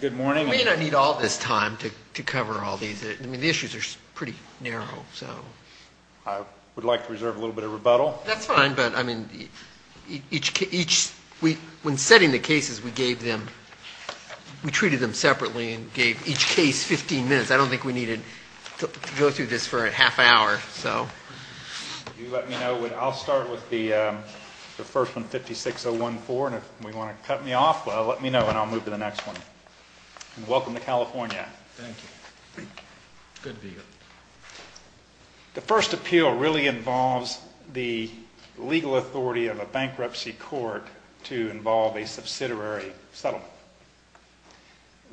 Good morning. We don't need all this time to cover all these. I mean, the issues are pretty narrow, so. I would like to reserve a little bit of rebuttal. That's fine, but I mean, when setting the cases, we gave them, we treated them separately and gave each case 15 minutes. I don't think we needed to go through this for a half hour, so. If you let me know, I'll start with the first one, 56014, and if you want to cut me off, let me know and I'll move to the next one. Welcome to California. Thank you. Good to be here. The first appeal really involves the legal authority of a bankruptcy court to involve a subsidiary settlement.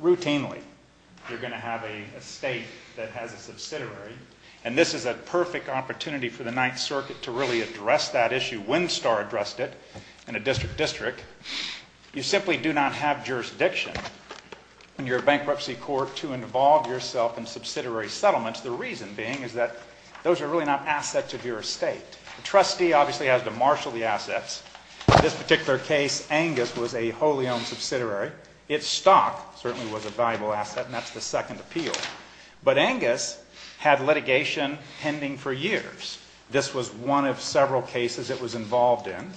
Routinely, you're going to have a state that has a subsidiary, and this is a perfect opportunity for the Ninth Circuit to really address that issue. When Winstar addressed it in a district district, you simply do not have jurisdiction in your bankruptcy court to involve yourself in subsidiary settlements. The reason being is that those are really not assets of your estate. The trustee obviously has to marshal the assets. In this particular case, Angus was a wholly owned subsidiary. Its stock certainly was a valuable asset, and that's the second appeal. But Angus had litigation pending for years. This was one of several cases it was involved in,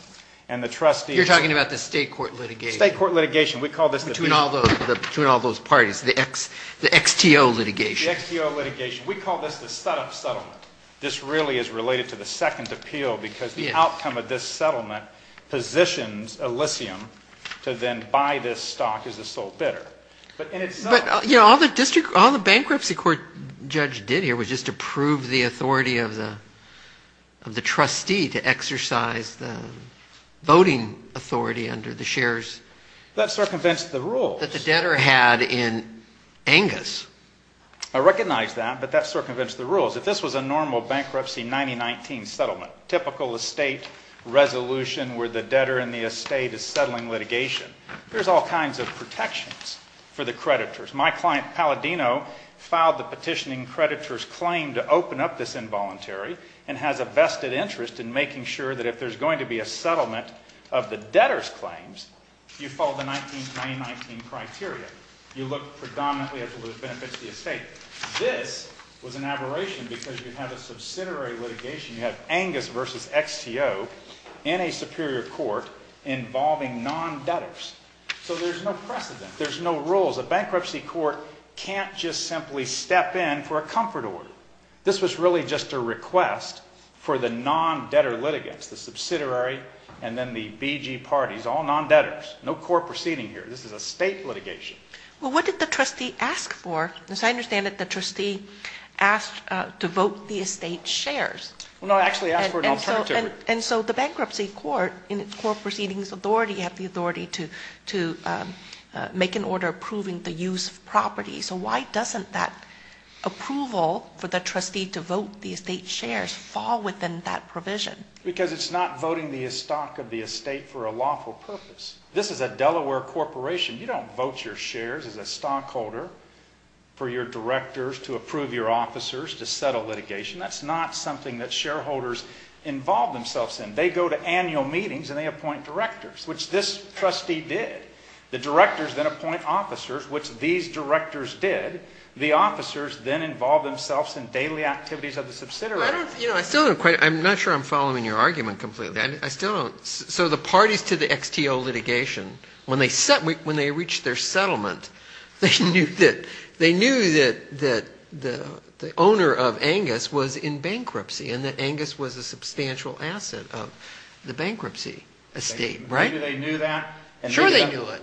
and the trustee... You're talking about the state court litigation. State court litigation. We call this the... Between all those parties, the XTO litigation. The XTO litigation. We call this the setup settlement. This really is related to the second appeal because the outcome of this settlement positions Elysium to then buy this stock as a sole bidder. But all the bankruptcy court judge did here was just to prove the authority of the trustee to exercise the voting authority under the shares... That circumvents the rules. ...that the debtor had in Angus. I recognize that, but that circumvents the rules. If this was a normal bankruptcy 1919 settlement, typical estate resolution where the debtor in the estate is settling litigation, there's all kinds of protections for the creditors. My client, Palladino, filed the petitioning creditor's claim to open up this involuntary and has a vested interest in making sure that if there's going to be a settlement of the debtor's claims, you follow the 1919 criteria. You look predominantly at the benefits to the estate. This was an aberration because you have a subsidiary litigation. You have Angus versus XTO in a superior court involving non-debtors. So there's no precedent. There's no rules. A bankruptcy court can't just simply step in for a comfort order. This was really just a request for the non-debtor litigants, the subsidiary and then the BG parties, all non-debtors. No court proceeding here. This is a state litigation. Well, what did the trustee ask for? As I understand it, the trustee asked to vote the estate's shares. Well, no, I actually asked for an alternative. And so the bankruptcy court in its court proceedings authority have the authority to make an order approving the use of property. So why doesn't that approval for the trustee to vote the estate's shares fall within that provision? Because it's not voting the stock of the estate for a lawful purpose. This is a Delaware corporation. You don't vote your shares as a stockholder for your directors to approve your officers to settle litigation. That's not something that shareholders involve themselves in. They go to annual meetings and they appoint directors, which this trustee did. The directors then appoint officers, which these directors did. The officers then involve themselves in daily activities of the subsidiary. I'm not sure I'm following your argument completely. So the parties to the XTO litigation, when they reached their settlement, they knew that the owner of Angus was in bankruptcy and that Angus was a substantial asset of the bankruptcy estate. Maybe they knew that. Sure they knew it.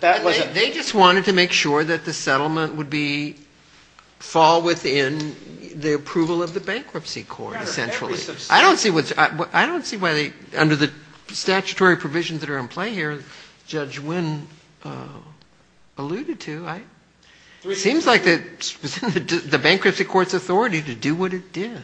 They just wanted to make sure that the settlement would fall within the approval of the bankruptcy court essentially. I don't see why under the statutory provisions that are in play here, Judge Wynn alluded to, it seems like the bankruptcy court's authority to do what it did.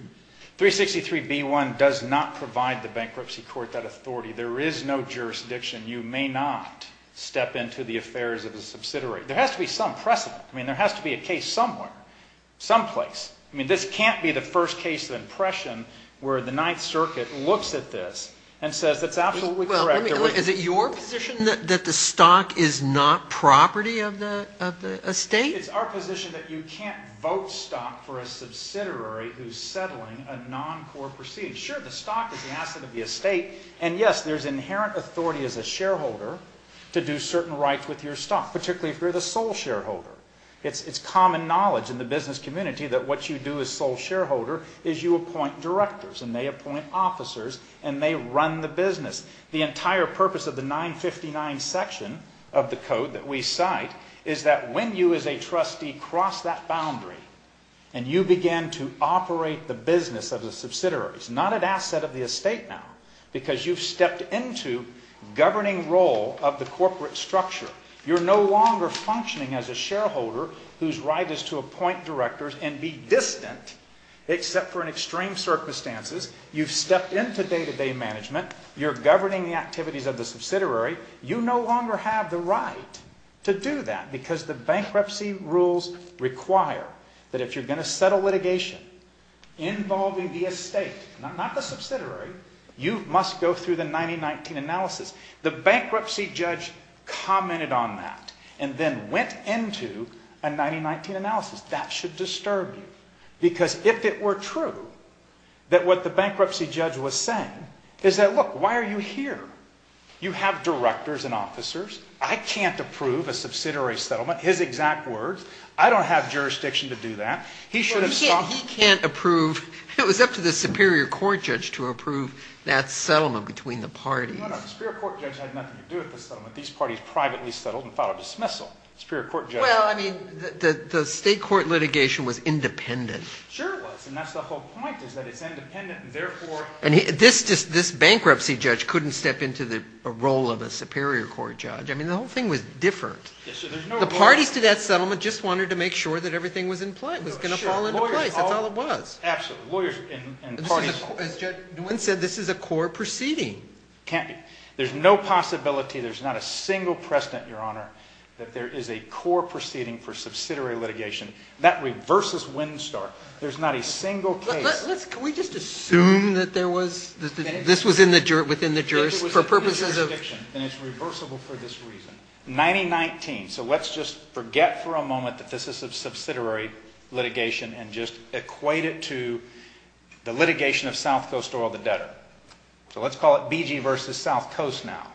363B1 does not provide the bankruptcy court that authority. There is no jurisdiction. You may not step into the affairs of a subsidiary. There has to be some precedent. I mean, there has to be a case somewhere, someplace. I mean, this can't be the first case of impression where the Ninth Circuit looks at this and says that's absolutely correct. Is it your position that the stock is not property of the estate? It's our position that you can't vote stock for a subsidiary who's settling a non-core proceeding. Sure, the stock is an asset of the estate, and yes, there's inherent authority as a shareholder to do certain rights with your stock, particularly if you're the sole shareholder. It's common knowledge in the business community that what you do as sole shareholder is you appoint directors, and they appoint officers, and they run the business. The entire purpose of the 959 section of the code that we cite is that when you as a trustee cross that boundary and you begin to operate the business of the subsidiary, it's not an asset of the estate now because you've stepped into governing role of the corporate structure. You're no longer functioning as a shareholder whose right is to appoint directors and be distant except for in extreme circumstances. You've stepped into day-to-day management. You're governing the activities of the subsidiary. You no longer have the right to do that because the bankruptcy rules require that if you're going to settle litigation involving the estate, not the subsidiary, you must go through the 9019 analysis. The bankruptcy judge commented on that and then went into a 9019 analysis. That should disturb you because if it were true that what the bankruptcy judge was saying is that, look, why are you here? You have directors and officers. I can't approve a subsidiary settlement, his exact words. I don't have jurisdiction to do that. He should have stopped. He can't approve. It was up to the superior court judge to approve that settlement between the parties. No, no, the superior court judge had nothing to do with the settlement. These parties privately settled and filed a dismissal. Superior court judge. Well, I mean, the state court litigation was independent. Sure it was, and that's the whole point is that it's independent, and therefore – And this bankruptcy judge couldn't step into the role of a superior court judge. I mean, the whole thing was different. The parties to that settlement just wanted to make sure that everything was going to fall into place. That's all it was. Absolutely. Lawyers and parties – As Judge Nguyen said, this is a core proceeding. There's no possibility, there's not a single precedent, Your Honor, that there is a core proceeding for subsidiary litigation. That reverses Winstar. There's not a single case – Can we just assume that this was within the jurisdiction for purposes of – If it was within the jurisdiction, then it's reversible for this reason. 1919, so let's just forget for a moment that this is a subsidiary litigation and just equate it to the litigation of South Coast Oil, the debtor. So let's call it BG versus South Coast now,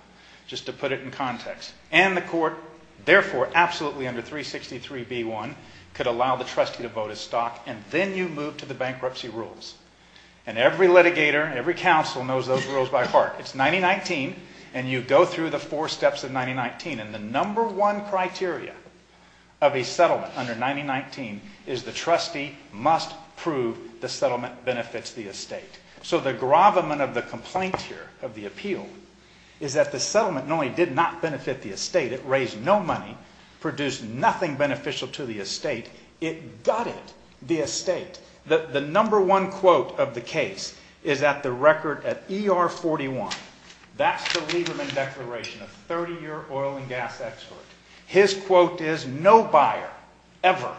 just to put it in context. And the court, therefore, absolutely under 363B1, could allow the trustee to vote as stock, and then you move to the bankruptcy rules. And every litigator, every counsel knows those rules by heart. It's 1919, and you go through the four steps of 1919, and the number one criteria of a settlement under 1919 is the trustee must prove the settlement benefits the estate. So the gravamen of the complaint here, of the appeal, is that the settlement not only did not benefit the estate, it raised no money, produced nothing beneficial to the estate, it gutted the estate. The number one quote of the case is at the record at ER 41. That's the Lieberman Declaration, a 30-year oil and gas expert. His quote is, no buyer ever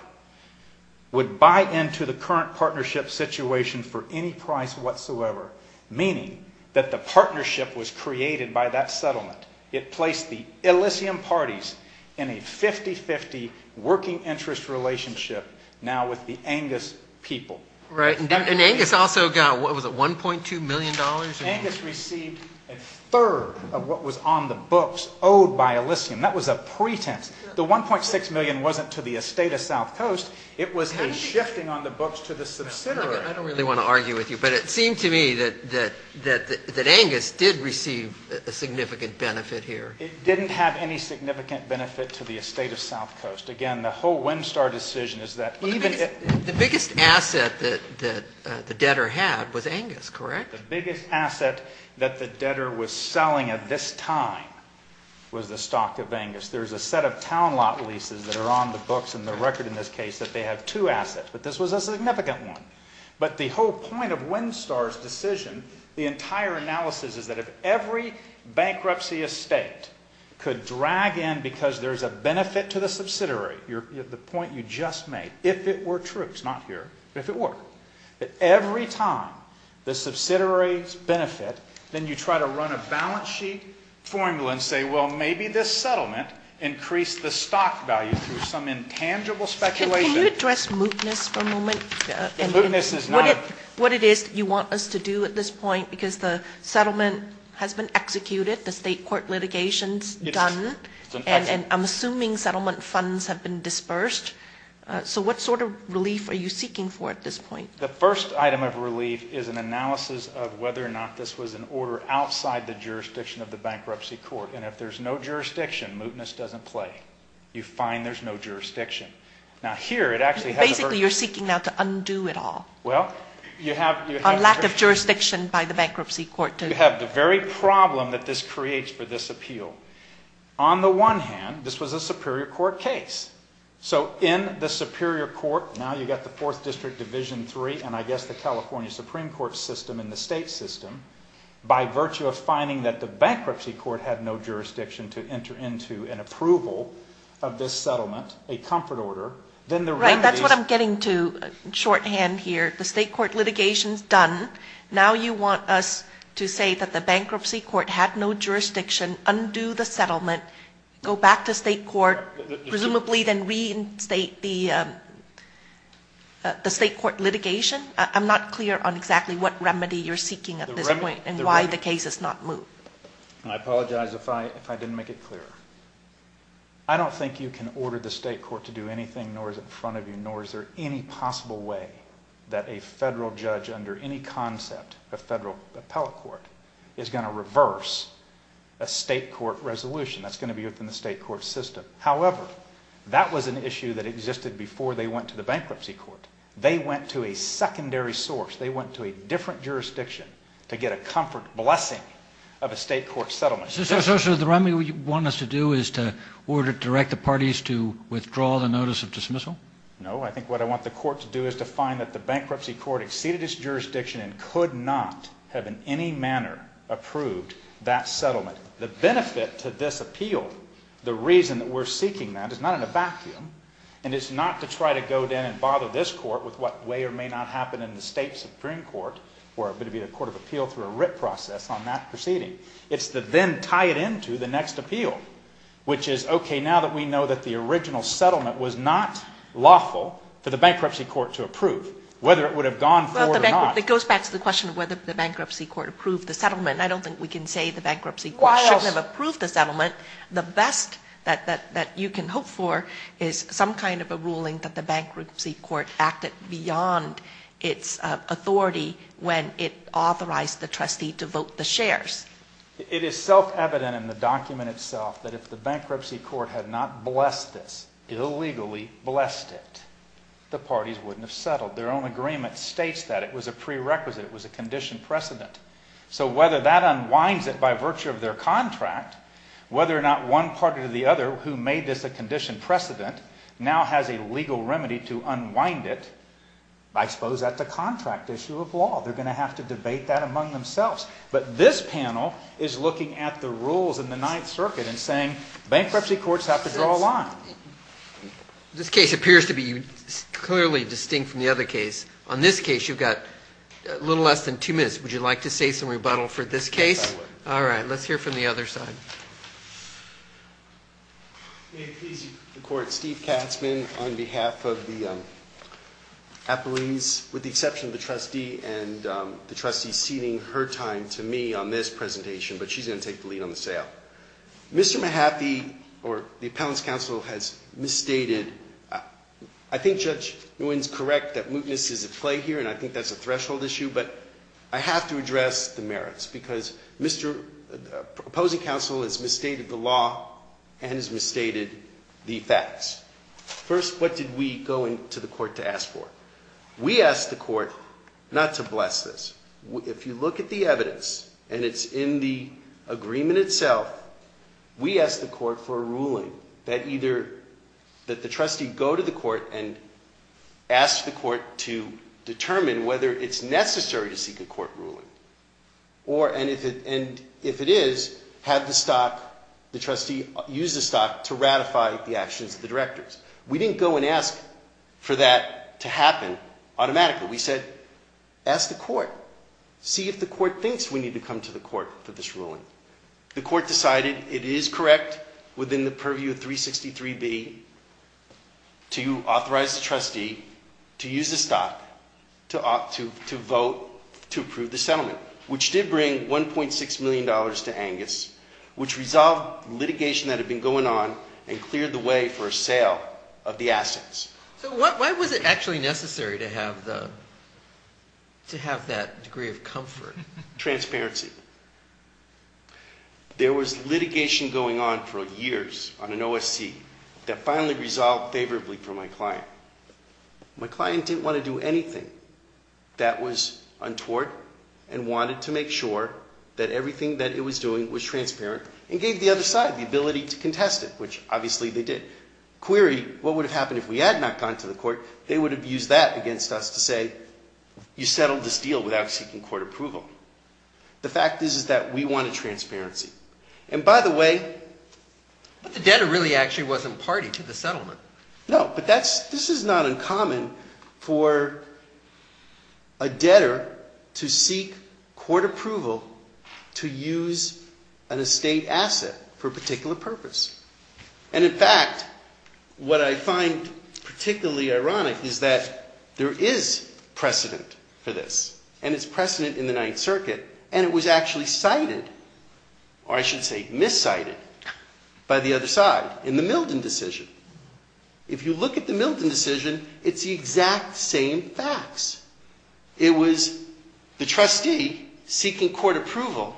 would buy into the current partnership situation for any price whatsoever, meaning that the partnership was created by that settlement. It placed the Elysium parties in a 50-50 working interest relationship now with the Angus people. Right, and Angus also got, what was it, $1.2 million? Angus received a third of what was on the books owed by Elysium. That was a pretense. The $1.6 million wasn't to the estate of South Coast. It was a shifting on the books to the subsidiary. I don't really want to argue with you, but it seemed to me that Angus did receive a significant benefit here. It didn't have any significant benefit to the estate of South Coast. Again, the whole Winstar decision is that even if— The biggest asset that the debtor had was Angus, correct? The biggest asset that the debtor was selling at this time was the stock of Angus. There's a set of town lot leases that are on the books and the record in this case that they have two assets, but this was a significant one. But the whole point of Winstar's decision, the entire analysis, is that if every bankruptcy estate could drag in because there's a benefit to the subsidiary, the point you just made, if it were true, it's not here, but if it were, that every time the subsidiary's benefit, then you try to run a balance sheet formula and say, well, maybe this settlement increased the stock value through some intangible speculation. Can you address mootness for a moment? Mootness is not a— What it is you want us to do at this point, because the settlement has been executed, the state court litigation's done, and I'm assuming settlement funds have been dispersed. So what sort of relief are you seeking for at this point? The first item of relief is an analysis of whether or not this was an order outside the jurisdiction of the bankruptcy court. And if there's no jurisdiction, mootness doesn't play. You find there's no jurisdiction. Now, here it actually has— Basically, you're seeking now to undo it all. Well, you have— A lack of jurisdiction by the bankruptcy court to— You have the very problem that this creates for this appeal. On the one hand, this was a superior court case. So in the superior court, now you've got the Fourth District Division III and I guess the California Supreme Court system and the state system. By virtue of finding that the bankruptcy court had no jurisdiction to enter into an approval of this settlement, a comfort order, then the remedies— Right, that's what I'm getting to shorthand here. The state court litigation's done. Now you want us to say that the bankruptcy court had no jurisdiction, undo the settlement, go back to state court, presumably then reinstate the state court litigation? I'm not clear on exactly what remedy you're seeking at this point and why the case has not moved. I apologize if I didn't make it clear. I don't think you can order the state court to do anything, nor is it in front of you, nor is there any possible way that a federal judge under any concept of federal appellate court is going to reverse a state court resolution. That's going to be within the state court system. However, that was an issue that existed before they went to the bankruptcy court. They went to a secondary source. They went to a different jurisdiction to get a comfort blessing of a state court settlement. So the remedy you want us to do is to direct the parties to withdraw the notice of dismissal? No, I think what I want the court to do is to find that the bankruptcy court exceeded its jurisdiction and could not have in any manner approved that settlement. The benefit to this appeal, the reason that we're seeking that, is not in a vacuum, and it's not to try to go in and bother this court with what may or may not happen in the state supreme court where it would be a court of appeal through a writ process on that proceeding. It's to then tie it into the next appeal, which is, okay, now that we know that the original settlement was not lawful for the bankruptcy court to approve, whether it would have gone forward or not. It goes back to the question of whether the bankruptcy court approved the settlement. I don't think we can say the bankruptcy court shouldn't have approved the settlement. The best that you can hope for is some kind of a ruling that the bankruptcy court acted beyond its authority when it authorized the trustee to vote the shares. It is self-evident in the document itself that if the bankruptcy court had not blessed this, illegally blessed it, the parties wouldn't have settled. Their own agreement states that. It was a prerequisite. It was a conditioned precedent. So whether that unwinds it by virtue of their contract, whether or not one party or the other who made this a conditioned precedent now has a legal remedy to unwind it, I suppose that's a contract issue of law. They're going to have to debate that among themselves. But this panel is looking at the rules in the Ninth Circuit and saying bankruptcy courts have to draw a line. This case appears to be clearly distinct from the other case. On this case, you've got a little less than two minutes. Would you like to say some rebuttal for this case? I would. All right. Let's hear from the other side. May it please the Court, Steve Katzman on behalf of the appellees, with the exception of the trustee and the trustee ceding her time to me on this presentation, but she's going to take the lead on the sale. Mr. Mahaffey, or the appellant's counsel, has misstated. I think Judge Nguyen is correct that mootness is at play here, and I think that's a threshold issue, but I have to address the merits because Mr. opposing counsel has misstated the law and has misstated the facts. First, what did we go into the court to ask for? We asked the court not to bless this. If you look at the evidence and it's in the agreement itself, we asked the court for a ruling that either the trustee go to the court and ask the court to determine whether it's necessary to seek a court ruling, and if it is, have the trustee use the stock to ratify the actions of the directors. We didn't go and ask for that to happen automatically. We said, ask the court. See if the court thinks we need to come to the court for this ruling. The court decided it is correct within the purview of 363B to authorize the trustee to use the stock to vote to approve the settlement, which did bring $1.6 million to Angus, which resolved litigation that had been going on and cleared the way for a sale of the assets. So why was it actually necessary to have that degree of comfort? Transparency. There was litigation going on for years on an OSC that finally resolved favorably for my client. My client didn't want to do anything that was untoward and wanted to make sure that everything that it was doing was transparent and gave the other side the ability to contest it, which obviously they did. Query, what would have happened if we had not gone to the court? They would have used that against us to say, you settled this deal without seeking court approval. The fact is that we wanted transparency. And by the way... But the debtor really actually wasn't party to the settlement. No, but this is not uncommon for a debtor to seek court approval to use an estate asset for a particular purpose. And in fact, what I find particularly ironic is that there is precedent for this. And it's precedent in the Ninth Circuit. And it was actually cited, or I should say, miscited by the other side in the Milton decision. If you look at the Milton decision, it's the exact same facts. It was the trustee seeking court approval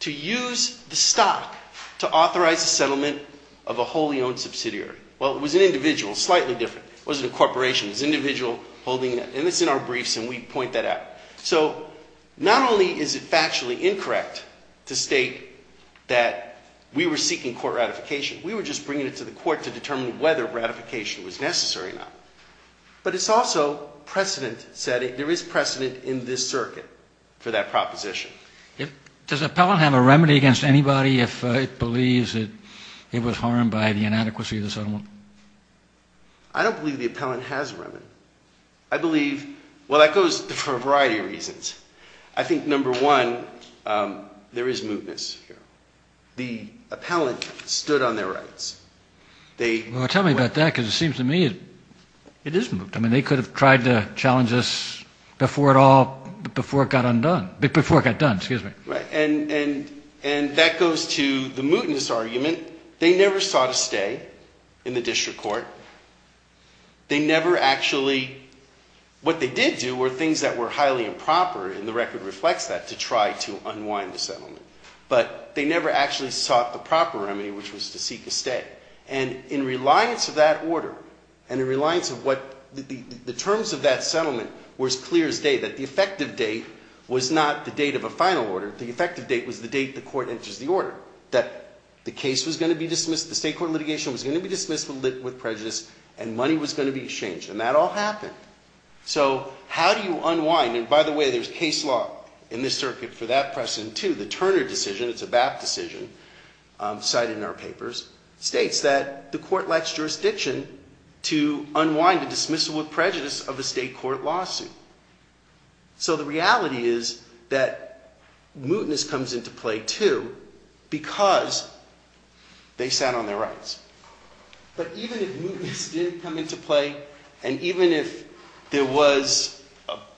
to use the stock to authorize the settlement of a wholly owned subsidiary. Well, it was an individual, slightly different. It wasn't a corporation. It was an individual holding it. And it's in our briefs, and we point that out. So not only is it factually incorrect to state that we were seeking court ratification. We were just bringing it to the court to determine whether ratification was necessary or not. But it's also precedent setting. There is precedent in this circuit for that proposition. Does the appellant have a remedy against anybody if it believes that it was harmed by the inadequacy of the settlement? I don't believe the appellant has a remedy. I believe, well, that goes for a variety of reasons. I think, number one, there is mootness here. The appellant stood on their rights. Well, tell me about that because it seems to me it is moot. I mean, they could have tried to challenge this before it all, before it got undone, before it got done, excuse me. Right. And that goes to the mootness argument. They never sought a stay in the district court. They never actually, what they did do were things that were highly improper, and the record reflects that, to try to unwind the settlement. But they never actually sought the proper remedy, which was to seek a stay. And in reliance of that order and in reliance of what the terms of that settlement were as clear as day, that the effective date was not the date of a final order. The effective date was the date the court enters the order, that the case was going to be dismissed, the state court litigation was going to be dismissed with prejudice, and money was going to be exchanged. And that all happened. So how do you unwind? And by the way, there's case law in this circuit for that precedent, too. The Turner decision, it's a BAP decision cited in our papers, states that the court lacks jurisdiction to unwind a dismissal with prejudice of a state court lawsuit. So the reality is that mootness comes into play, too, because they sat on their rights. But even if mootness did come into play, and even if there was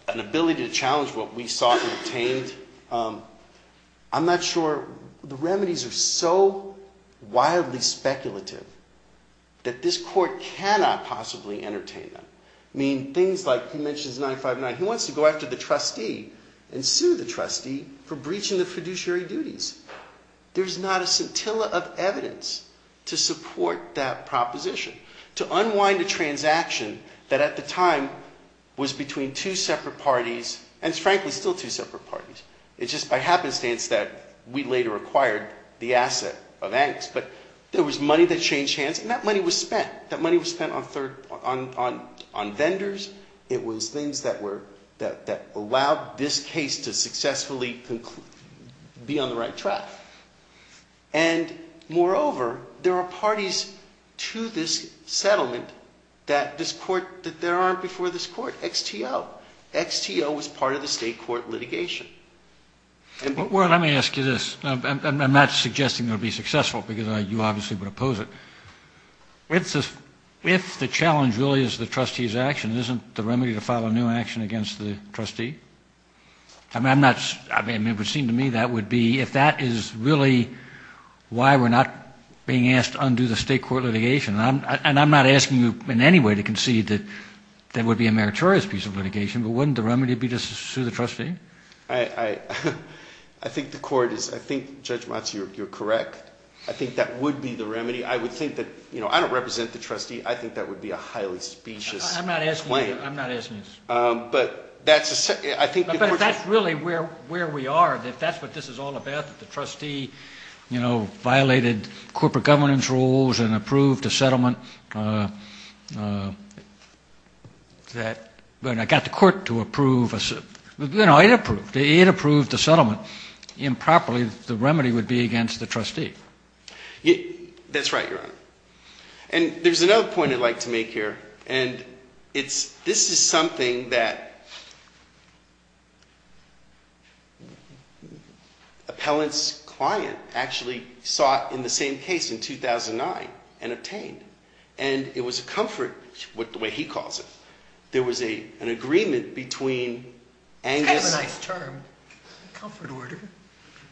an ability to challenge what we sought and obtained, I'm not sure. The remedies are so wildly speculative that this court cannot possibly entertain them. I mean, things like, he mentions 959. He wants to go after the trustee and sue the trustee for breaching the fiduciary duties. There's not a scintilla of evidence to support that proposition. To unwind a transaction that at the time was between two separate parties, and it's frankly still two separate parties. It's just by happenstance that we later acquired the asset of angst. But there was money that changed hands, and that money was spent. That money was spent on vendors. It was things that allowed this case to successfully be on the right track. And moreover, there are parties to this settlement that there aren't before this court. XTO. XTO was part of the state court litigation. Well, let me ask you this. I'm not suggesting it would be successful, because you obviously would oppose it. If the challenge really is the trustee's action, isn't the remedy to file a new action against the trustee? I mean, it would seem to me that would be, if that is really why we're not being asked to undo the state court litigation, and I'm not asking you in any way to concede that that would be a meritorious piece of litigation, but wouldn't the remedy be just to sue the trustee? I think the court is, I think Judge Matsu, you're correct. I think that would be the remedy. I would think that, you know, I don't represent the trustee. I think that would be a highly specious claim. I'm not asking you. I'm not asking you. But that's, I think the court just. But if that's really where we are, if that's what this is all about, that the trustee, you know, violated corporate governance rules and approved a settlement that, when it got the court to approve, you know, it approved, it approved the settlement improperly, the remedy would be against the trustee. That's right, Your Honor. And there's another point I'd like to make here, and it's, this is something that appellant's client actually sought in the same case in 2009 and obtained. And it was a comfort, the way he calls it, there was an agreement between Angus. It's kind of a nice term, comfort order.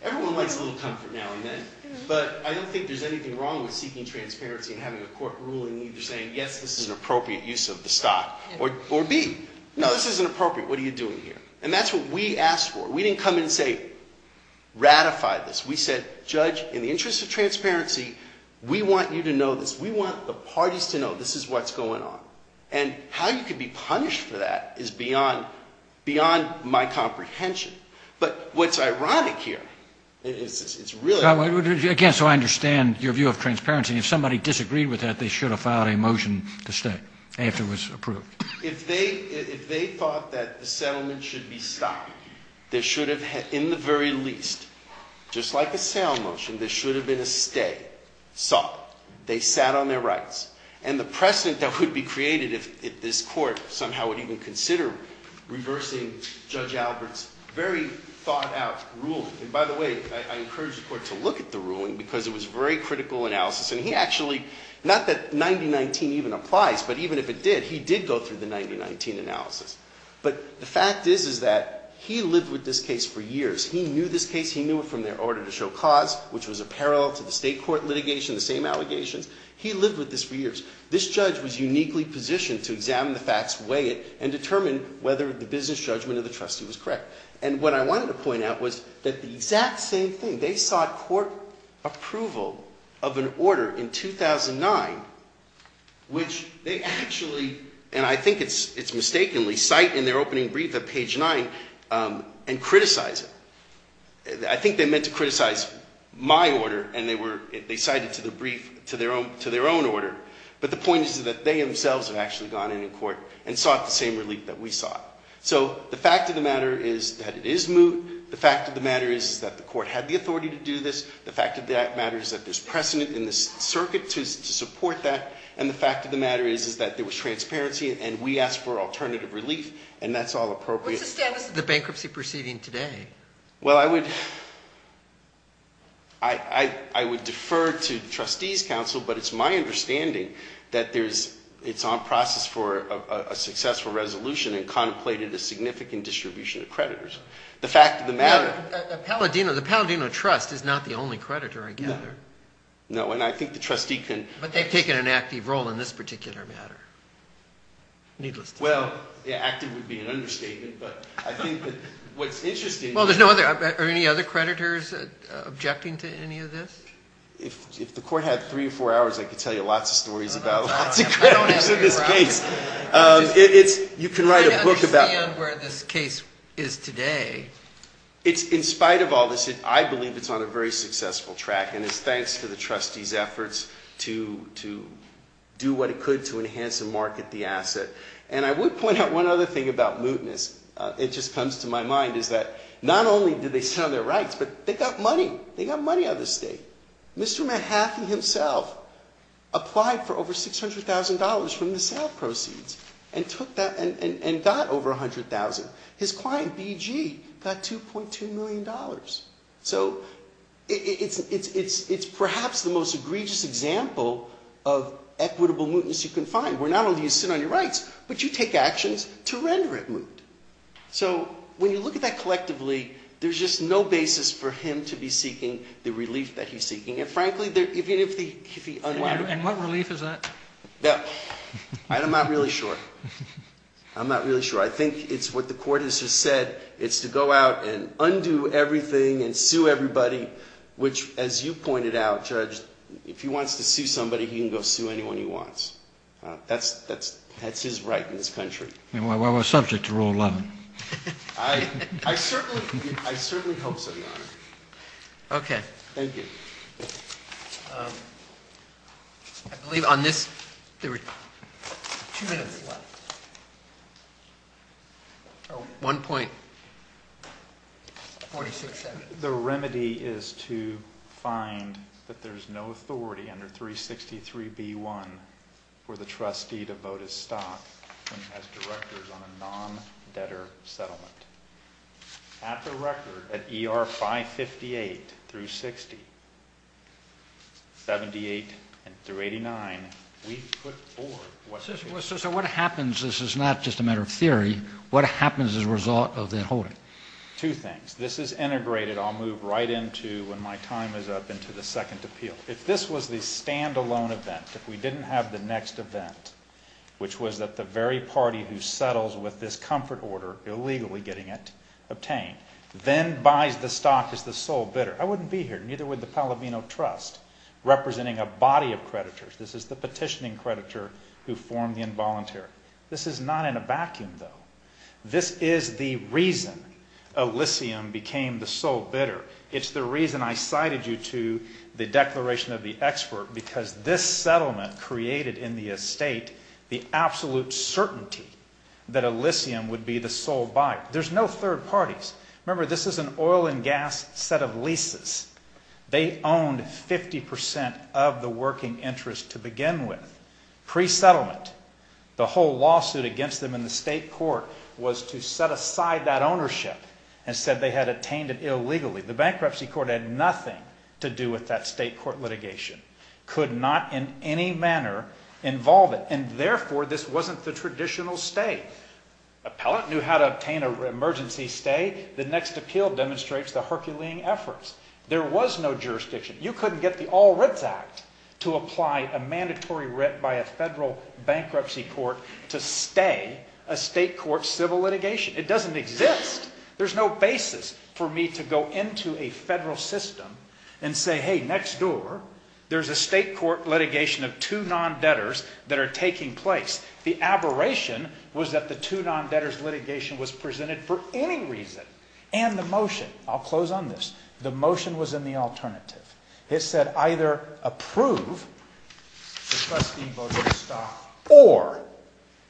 Everyone likes a little comfort now and then. But I don't think there's anything wrong with seeking transparency and having a court ruling either saying, yes, this is an appropriate use of the stock, or B, no, this isn't appropriate. What are you doing here? And that's what we asked for. We didn't come in and say, ratify this. We said, Judge, in the interest of transparency, we want you to know this. We want the parties to know this is what's going on. And how you could be punished for that is beyond my comprehension. But what's ironic here, it's really ironic. Again, so I understand your view of transparency. If somebody disagreed with that, they should have filed a motion to stay after it was approved. If they thought that the settlement should be stopped, they should have, in the very least, just like a sale motion, there should have been a stay, sought. They sat on their rights. And the precedent that would be created if this court somehow would even consider reversing Judge Albert's very thought-out ruling. And by the way, I encourage the court to look at the ruling because it was a very critical analysis. And he actually, not that 9019 even applies, but even if it did, he did go through the 9019 analysis. But the fact is, is that he lived with this case for years. He knew this case. He knew it from their order to show cause, which was a parallel to the state court litigation, the same allegations. He lived with this for years. This judge was uniquely positioned to examine the facts, weigh it, and determine whether the business judgment of the trustee was correct. And what I wanted to point out was that the exact same thing. They sought court approval of an order in 2009, which they actually, and I think it's mistakenly, cite in their opening brief at page 9 and criticize it. I think they meant to criticize my order, and they cited it to their own order. But the point is that they themselves have actually gone in court and sought the same relief that we sought. So the fact of the matter is that it is moot. The fact of the matter is that the court had the authority to do this. The fact of the matter is that there's precedent in this circuit to support that. And the fact of the matter is that there was transparency, and we asked for alternative relief, and that's all appropriate. What's the status of the bankruptcy proceeding today? Well, I would defer to the trustees' council, but it's my understanding that it's on process for a successful resolution and contemplated a significant distribution of creditors. The fact of the matter— The Palladino Trust is not the only creditor, I gather. No, and I think the trustee can— But they've taken an active role in this particular matter, needless to say. Well, yeah, active would be an understatement, but I think that what's interesting— Well, are any other creditors objecting to any of this? If the court had three or four hours, I could tell you lots of stories about lots of creditors in this case. You can write a book about— I don't understand where this case is today. In spite of all this, I believe it's on a very successful track, and it's thanks to the trustees' efforts to do what it could to enhance and market the asset. And I would point out one other thing about mootness. It just comes to my mind is that not only did they sit on their rights, but they got money. They got money out of the state. Mr. Mahaffey himself applied for over $600,000 from the sale proceeds and took that and got over $100,000. His client, BG, got $2.2 million. So it's perhaps the most egregious example of equitable mootness you can find, where not only do you sit on your rights, but you take actions to render it moot. So when you look at that collectively, there's just no basis for him to be seeking the relief that he's seeking. And frankly, even if he— And what relief is that? I'm not really sure. I'm not really sure. I think it's what the court has just said. It's to go out and undo everything and sue everybody, which, as you pointed out, Judge, if he wants to sue somebody, he can go sue anyone he wants. That's his right in this country. Well, we're subject to Rule 11. I certainly hope so, Your Honor. Okay. Thank you. I believe on this— Two minutes left. Oh, 1.46 seconds. The remedy is to find that there's no authority under 363b.1 for the trustee to vote his stock as directors on a non-debtor settlement. At the record, at ER 558 through 60, 78 through 89, we put forward— So what happens—this is not just a matter of theory—what happens as a result of the holding? Two things. This is integrated. I'll move right into, when my time is up, into the second appeal. If this was the stand-alone event, if we didn't have the next event, which was that the very party who settles with this comfort order, illegally getting it obtained, then buys the stock as the sole bidder, I wouldn't be here, neither would the Pallavino Trust, representing a body of creditors. This is the petitioning creditor who formed the involuntary. This is not in a vacuum, though. This is the reason Elysium became the sole bidder. It's the reason I cited you to the declaration of the expert, because this settlement created in the estate the absolute certainty that Elysium would be the sole buyer. There's no third parties. Remember, this is an oil and gas set of leases. They owned 50% of the working interest to begin with. Pre-settlement, the whole lawsuit against them in the state court was to set aside that ownership and said they had obtained it illegally. The bankruptcy court had nothing to do with that state court litigation, could not in any manner involve it, and therefore this wasn't the traditional stay. Appellant knew how to obtain an emergency stay. The next appeal demonstrates the Herculean efforts. There was no jurisdiction. You couldn't get the All Writs Act to apply a mandatory writ by a federal bankruptcy court to stay a state court civil litigation. It doesn't exist. There's no basis for me to go into a federal system and say, hey, next door there's a state court litigation of two non-debtors that are taking place. The aberration was that the two non-debtors litigation was presented for any reason. And the motion, I'll close on this, the motion was in the alternative. It said either approve the trustee voted to stop or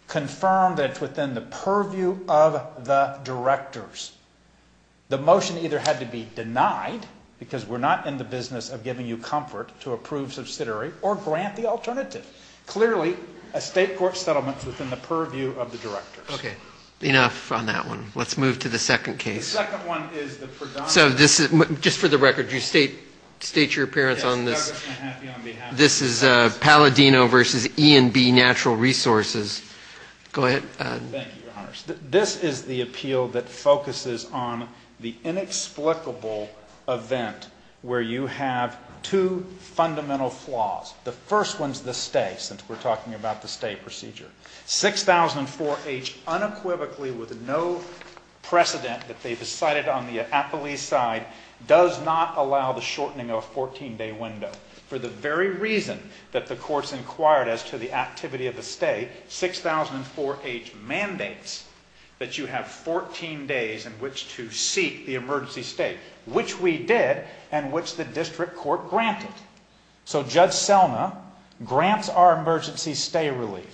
confirm that it's within the purview of the directors. The motion either had to be denied because we're not in the business of giving you comfort to approve subsidiary or grant the alternative. Clearly, a state court settlement is within the purview of the directors. Okay, enough on that one. Let's move to the second case. So this is, just for the record, you state your appearance on this. This is Palladino v. E&B Natural Resources. Go ahead. Thank you, Your Honors. This is the appeal that focuses on the inexplicable event where you have two fundamental flaws. The first one is the stay, since we're talking about the stay procedure. 6004H unequivocally with no precedent that they've decided on the appellee's side does not allow the shortening of a 14-day window. For the very reason that the courts inquired as to the activity of the stay, 6004H mandates that you have 14 days in which to seek the emergency stay, which we did and which the district court granted. So Judge Selma grants our emergency stay relief,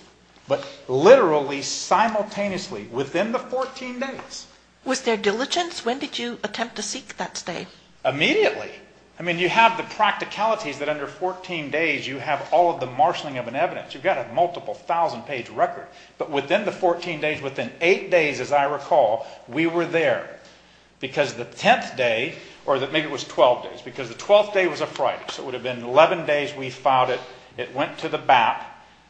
but literally, simultaneously, within the 14 days. Was there diligence? When did you attempt to seek that stay? Immediately. I mean, you have the practicalities that under 14 days you have all of the marshaling of an evidence. You've got a multiple thousand-page record. But within the 14 days, within 8 days as I recall, we were there. Because the 10th day, or maybe it was 12 days, because the 12th day was a Friday, so it would have been 11 days we filed it. It went to the BAP.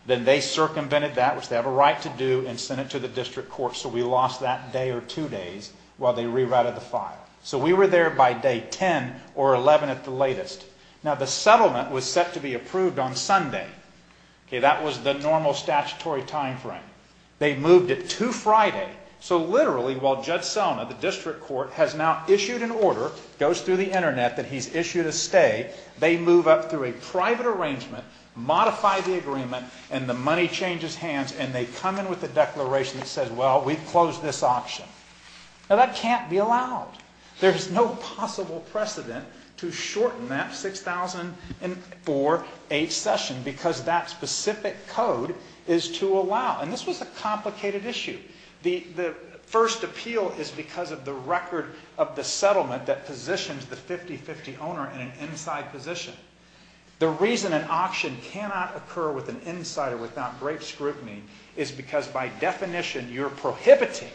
Then they circumvented that, which they have a right to do, and sent it to the district court. So we lost that day or two days while they rewrited the file. So we were there by day 10 or 11 at the latest. Now, the settlement was set to be approved on Sunday. That was the normal statutory time frame. They moved it to Friday. that he's issued a stay. They move up through a private arrangement, modify the agreement, and the money changes hands, and they come in with a declaration that says, well, we've closed this auction. Now, that can't be allowed. There's no possible precedent to shorten that 6,004-H session because that specific code is to allow. And this was a complicated issue. The first appeal is because of the record of the settlement that positions the 50-50 owner in an inside position. The reason an auction cannot occur with an insider without great scrutiny is because, by definition, you're prohibiting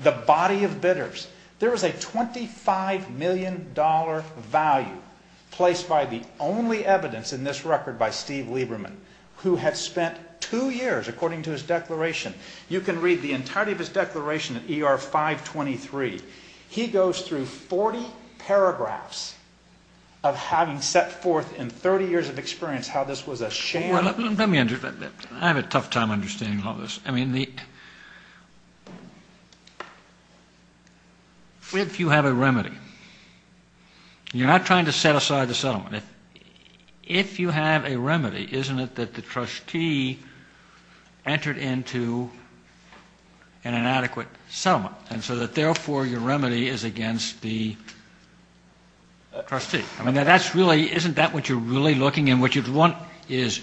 the body of bidders. There was a $25 million value placed by the only evidence in this record by Steve Lieberman, who had spent two years, according to his declaration. You can read the entirety of his declaration at ER 523. He goes through 40 paragraphs of having set forth in 30 years of experience how this was a sham. Let me interpret that. I have a tough time understanding all this. If you have a remedy, you're not trying to set aside the settlement. If you have a remedy, isn't it that the trustee entered into an inadequate settlement, and so that, therefore, your remedy is against the trustee? I mean, isn't that what you're really looking at? What you want is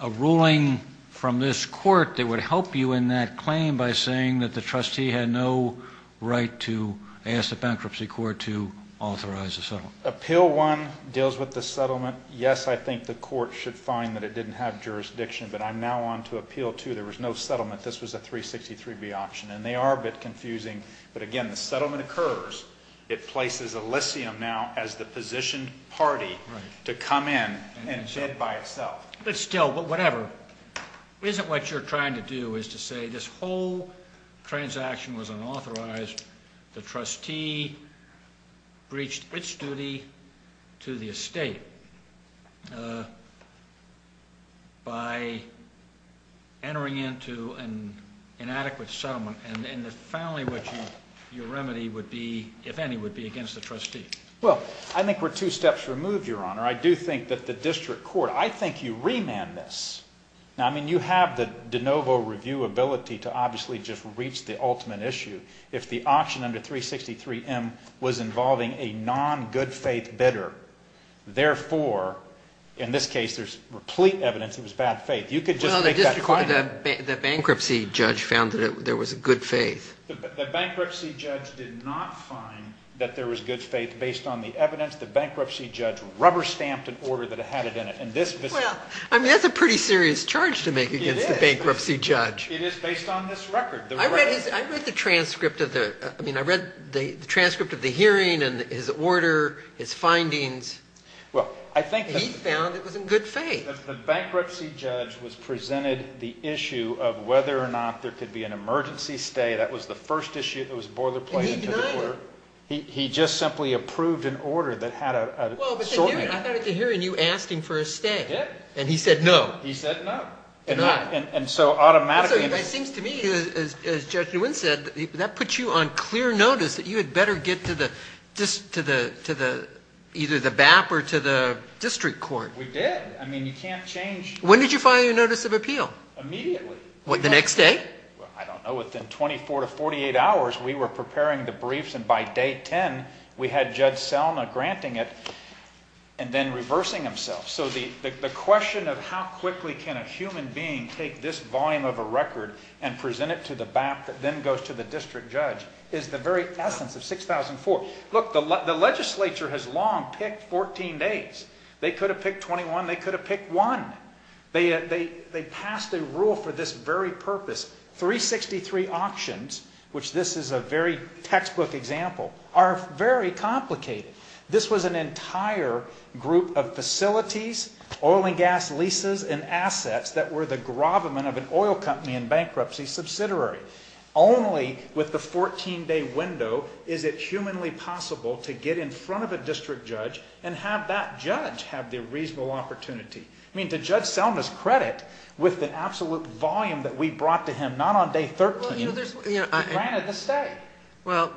a ruling from this court that would help you in that claim by saying that the trustee had no right to ask the bankruptcy court to authorize the settlement. Appeal 1 deals with the settlement. Yes, I think the court should find that it didn't have jurisdiction, but I'm now on to Appeal 2. There was no settlement. This was a 363B option, and they are a bit confusing. But, again, the settlement occurs. It places Elysium now as the positioned party to come in and bid by itself. But still, whatever, isn't what you're trying to do is to say this whole transaction was unauthorized. The trustee breached its duty to the estate by entering into an inadequate settlement. And, finally, what your remedy would be, if any, would be against the trustee. Well, I think we're two steps removed, Your Honor. I do think that the district court, I think you remand this. Now, I mean, you have the de novo review ability to obviously just reach the ultimate issue. If the option under 363M was involving a non-good faith bidder, therefore, in this case, there's replete evidence it was bad faith. You could just make that claim. Well, the district court, the bankruptcy judge found that there was a good faith. The bankruptcy judge did not find that there was good faith based on the evidence. The bankruptcy judge rubber-stamped an order that had it in it. Well, I mean, that's a pretty serious charge to make against the bankruptcy judge. It is based on this record. I read the transcript of the hearing and his order, his findings. He found it was in good faith. The bankruptcy judge was presented the issue of whether or not there could be an emergency stay. That was the first issue that was boilerplate into the court. And he denied it. He just simply approved an order that had a sort of order. I thought at the hearing you asked him for a stay. I did. And he said no. He said no. Denied. And so automatically. It seems to me, as Judge Nguyen said, that puts you on clear notice that you had better get to either the BAP or to the district court. We did. I mean, you can't change. When did you file your notice of appeal? Immediately. The next day? I don't know. Within 24 to 48 hours we were preparing the briefs and by day 10 we had Judge Selma granting it and then reversing himself. So the question of how quickly can a human being take this volume of a record and present it to the BAP that then goes to the district judge is the very essence of 6004. Look, the legislature has long picked 14 days. They could have picked 21. They could have picked one. They passed a rule for this very purpose. 363 auctions, which this is a very textbook example, are very complicated. This was an entire group of facilities, oil and gas leases, and assets that were the grovement of an oil company in bankruptcy subsidiary. Only with the 14-day window is it humanly possible to get in front of a district judge and have that judge have the reasonable opportunity. I mean, to Judge Selma's credit, with the absolute volume that we brought to him not on day 13, he granted the stay. Well,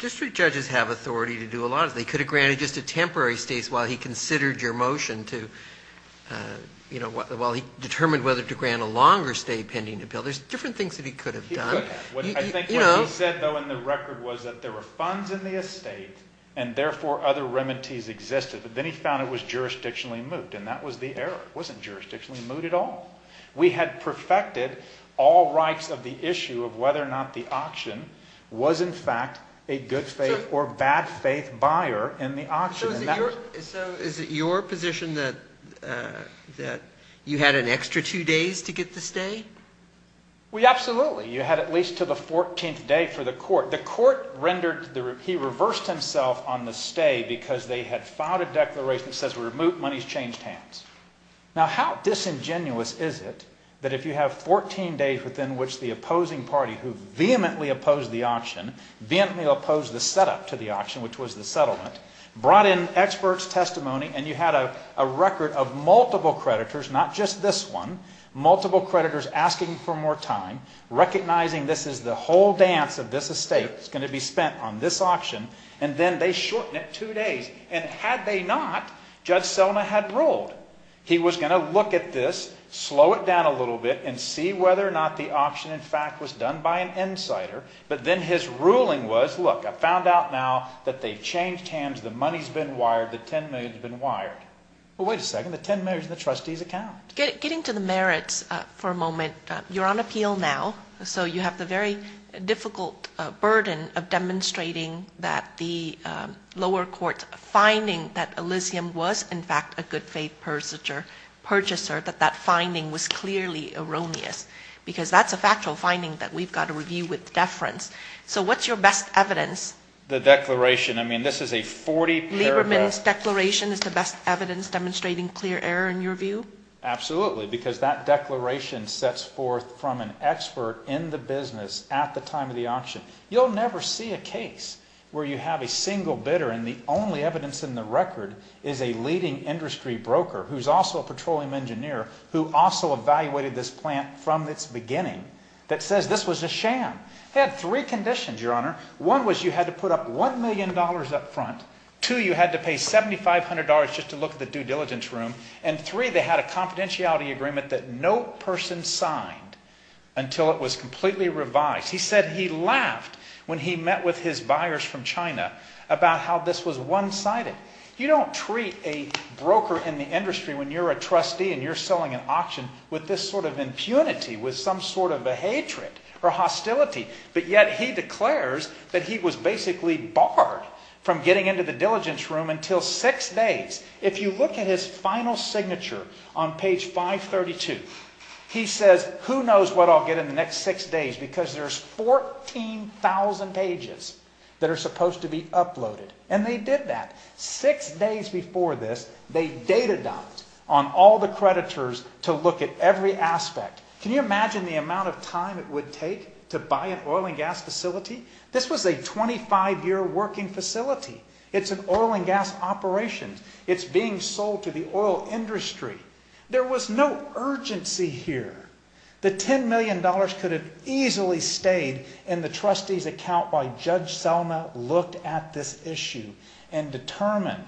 district judges have authority to do a lot of things. They could have granted just a temporary stay while he considered your motion to, you know, while he determined whether to grant a longer stay pending the bill. There's different things that he could have done. I think what he said, though, in the record was that there were funds in the estate and therefore other remedies existed. But then he found it was jurisdictionally moot, and that was the error. It wasn't jurisdictionally moot at all. We had perfected all rights of the issue of whether or not the auction was, in fact, a good-faith or bad-faith buyer in the auction. So is it your position that you had an extra two days to get the stay? Well, absolutely. You had at least until the 14th day for the court. The court rendered the—he reversed himself on the stay because they had filed a declaration that says, remove monies, change hands. Now, how disingenuous is it that if you have 14 days within which the opposing party who vehemently opposed the auction, vehemently opposed the setup to the auction, which was the settlement, brought in experts' testimony, and you had a record of multiple creditors, not just this one, multiple creditors asking for more time, recognizing this is the whole dance of this estate. It's going to be spent on this auction. And then they shorten it two days. And had they not, Judge Selma had ruled. He was going to look at this, slow it down a little bit, and see whether or not the auction, in fact, was done by an insider. But then his ruling was, look, I found out now that they've changed hands. The money's been wired. The $10 million's been wired. Well, wait a second. The $10 million's in the trustee's account. Getting to the merits for a moment, you're on appeal now. So you have the very difficult burden of demonstrating that the lower court's finding that Elysium was, in fact, a good faith purchaser, that that finding was clearly erroneous because that's a factual finding that we've got to review with deference. So what's your best evidence? The declaration. I mean, this is a 40-paragraph. Lieberman's declaration is the best evidence demonstrating clear error in your view? Absolutely, because that declaration sets forth from an expert in the business at the time of the auction. You'll never see a case where you have a single bidder and the only evidence in the record is a leading industry broker, who's also a petroleum engineer, who also evaluated this plant from its beginning, that says this was a sham. They had three conditions, Your Honor. One was you had to put up $1 million up front. Two, you had to pay $7,500 just to look at the due diligence room. And three, they had a confidentiality agreement that no person signed until it was completely revised. He said he laughed when he met with his buyers from China about how this was one-sided. You don't treat a broker in the industry when you're a trustee and you're selling an auction with this sort of impunity, with some sort of a hatred or hostility, but yet he declares that he was basically barred from getting into the diligence room until six days. If you look at his final signature on page 532, he says who knows what I'll get in the next six days because there's 14,000 pages that are supposed to be uploaded. And they did that. Six days before this, they data-dumped on all the creditors to look at every aspect. Can you imagine the amount of time it would take to buy an oil and gas facility? This was a 25-year working facility. It's an oil and gas operation. It's being sold to the oil industry. There was no urgency here. The $10 million could have easily stayed in the trustee's account why Judge Selma looked at this issue and determined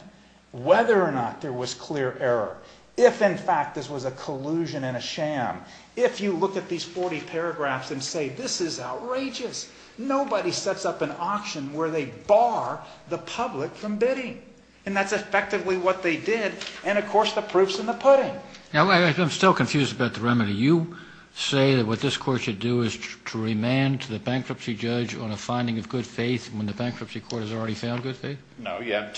whether or not there was clear error. If, in fact, this was a collusion and a sham. If you look at these 40 paragraphs and say this is outrageous. Nobody sets up an auction where they bar the public from bidding. And that's effectively what they did. And, of course, the proof's in the pudding. I'm still confused about the remedy. You say that what this court should do is to remand to the bankruptcy judge on a finding of good faith when the bankruptcy court has already found good faith? No, you have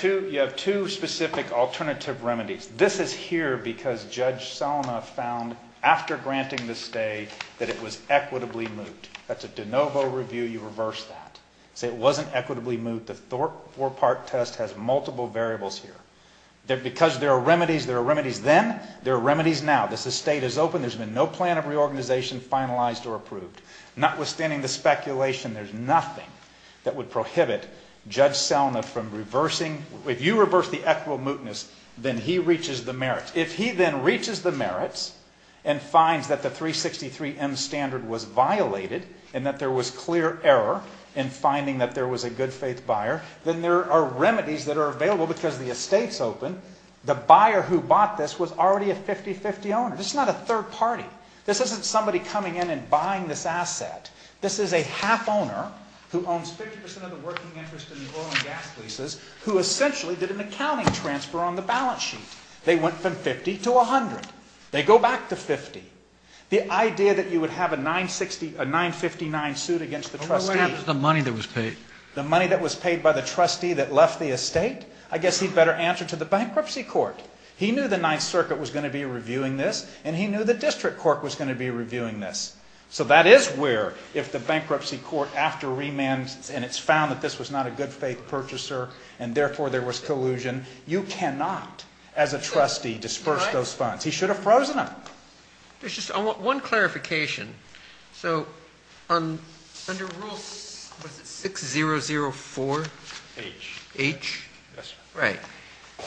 two specific alternative remedies. This is here because Judge Selma found after granting the stay that it was equitably moot. That's a de novo review. You reverse that. Say it wasn't equitably moot. The four-part test has multiple variables here. Because there are remedies then, there are remedies now. This estate is open. There's been no plan of reorganization finalized or approved. Notwithstanding the speculation, there's nothing that would prohibit Judge Selma from reversing. If you reverse the equitable mootness, then he reaches the merits. and finds that the 363M standard was violated and that there was clear error in finding that there was a good faith buyer, then there are remedies that are available because the estate's open. The buyer who bought this was already a 50-50 owner. This is not a third party. This isn't somebody coming in and buying this asset. This is a half owner who owns 50% of the working interest in the oil and gas leases who essentially did an accounting transfer on the balance sheet. They went from 50 to 100. They go back to 50. The idea that you would have a 959 suit against the trustee... What would happen to the money that was paid? The money that was paid by the trustee that left the estate? I guess he'd better answer to the bankruptcy court. He knew the Ninth Circuit was going to be reviewing this, and he knew the district court was going to be reviewing this. So that is where, if the bankruptcy court, after remand, and it's found that this was not a good faith purchaser, and therefore there was collusion, you cannot, as a trustee, disperse those funds. He should have frozen them. There's just one clarification. So under Rule 6004H,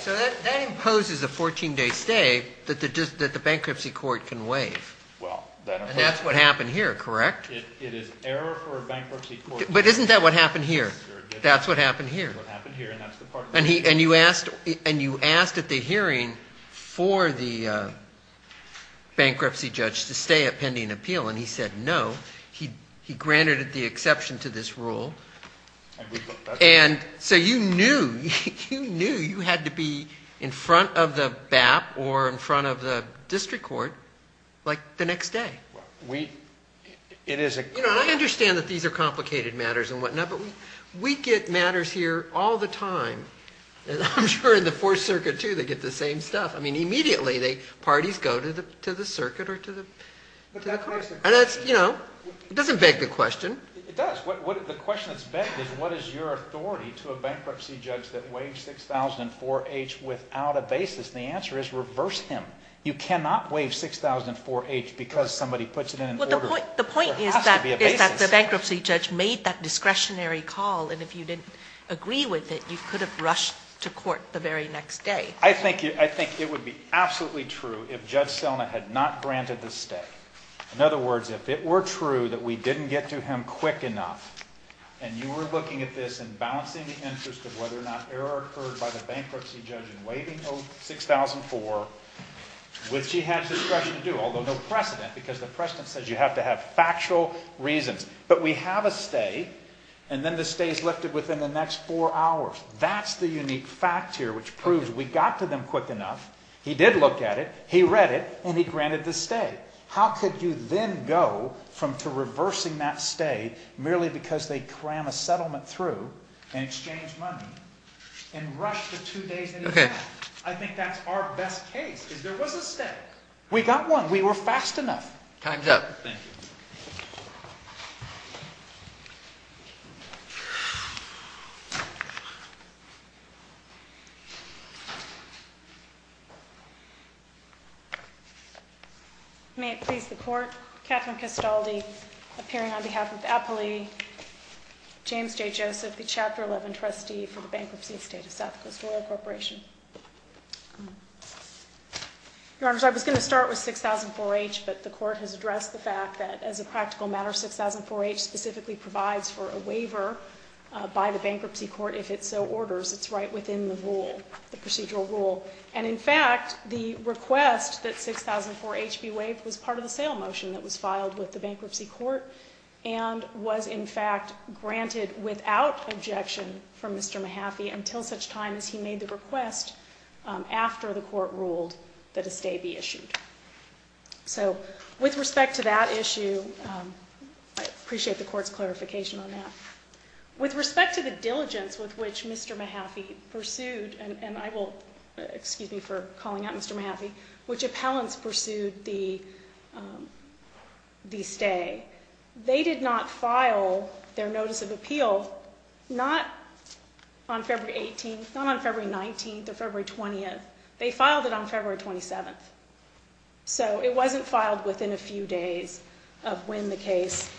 that imposes a 14-day stay that the bankruptcy court can waive. And that's what happened here, correct? It is error for a bankruptcy court... But isn't that what happened here? That's what happened here. And you asked at the hearing for the bankruptcy judge to stay at pending appeal, and he said no. He granted it the exception to this rule. And so you knew, you knew you had to be in front of the BAP or in front of the district court, like, the next day. You know, I understand that these are complicated matters and whatnot, but we get matters here all the time. And I'm sure in the Fourth Circuit, too, they get the same stuff. I mean, immediately, parties go to the circuit or to the court. And that's, you know, it doesn't beg the question. It does. The question that's begged is what is your authority to a bankruptcy judge that waived 6004H without a basis? And the answer is reverse him. You cannot waive 6004H because somebody puts it in an order. Well, the point is that the bankruptcy judge made that discretionary call. And if you didn't agree with it, you could have rushed to court the very next day. I think it would be absolutely true if Judge Selna had not granted the stay. In other words, if it were true that we didn't get to him quick enough, and you were looking at this and balancing the interest of whether or not error occurred by the bankruptcy judge in waiving 6004H, which he had discretion to do, although no precedent, because the precedent says you have to have factual reasons. But we have a stay, and then the stay is lifted within the next four hours. That's the unique fact here, which proves we got to them quick enough. He did look at it. He read it, and he granted the stay. How could you then go from reversing that stay merely because they cram a settlement through and exchange money and rush the two days in advance? I think that's our best case, is there was a stay. We got one. We were fast enough. Time's up. Thank you. May it please the Court. Catherine Castaldi, appearing on behalf of the appellee. James J. Joseph, the Chapter 11 trustee for the bankruptcy estate of South Coast Royal Corporation. Your Honors, I was going to start with 6004H, but the Court has addressed the fact that as a practical matter, 6004H specifically provides for a waiver by the bankruptcy court if it so orders. It's right within the rule, the procedural rule. And in fact, the request that 6004H be waived was part of the sale motion that was filed with the bankruptcy court and was, in fact, granted without objection from Mr. Mahaffey until such time as he made the request after the Court ruled that a stay be issued. So with respect to that issue, I appreciate the Court's clarification on that. With respect to the diligence with which Mr. Mahaffey pursued, and I will excuse me for calling out Mr. Mahaffey, which appellants pursued the stay, they did not file their notice of appeal not on February 18th, not on February 19th or February 20th. They filed it on February 27th. So it wasn't filed within a few days of when the case,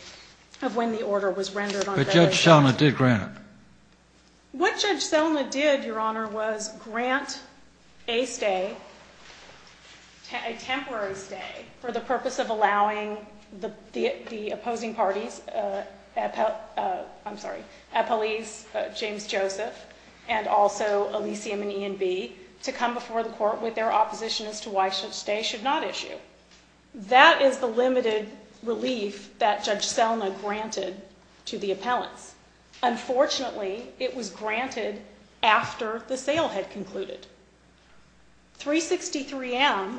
of when the order was rendered on February 17th. But Judge Selna did grant it. What Judge Selna did, Your Honor, was grant a stay, a temporary stay, for the purpose of allowing the opposing parties, I'm sorry, Appellees James Joseph and also Elysium and E&B, to come before the Court with their opposition as to why such stay should not issue. That is the limited relief that Judge Selna granted to the appellants. Unfortunately, it was granted after the sale had concluded. 363M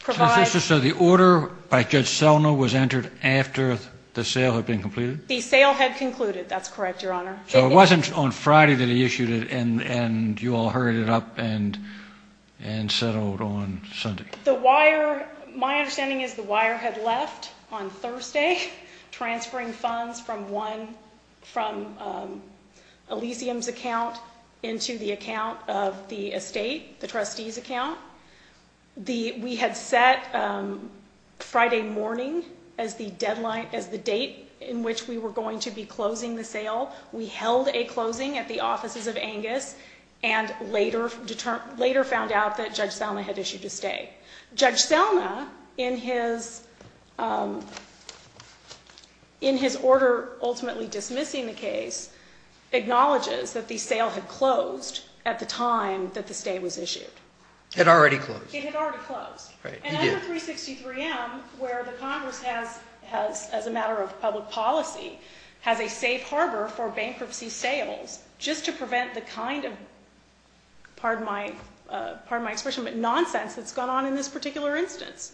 provides... So the order by Judge Selna was entered after the sale had been completed? The sale had concluded. That's correct, Your Honor. So it wasn't on Friday that he issued it and you all hurried it up and settled on Sunday. My understanding is the wire had left on Thursday, transferring funds from Elysium's account into the account of the estate, the trustee's account. We had set Friday morning as the deadline, as the date in which we were going to be closing the sale. We held a closing at the offices of Angus and later found out that Judge Selna had issued a stay. Judge Selna, in his order ultimately dismissing the case, acknowledges that the sale had closed at the time that the stay was issued. It had already closed. It had already closed. Right, it did. Under 363M, where the Congress has, as a matter of public policy, has a safe harbor for bankruptcy sales, just to prevent the kind of nonsense that's going on in this particular instance.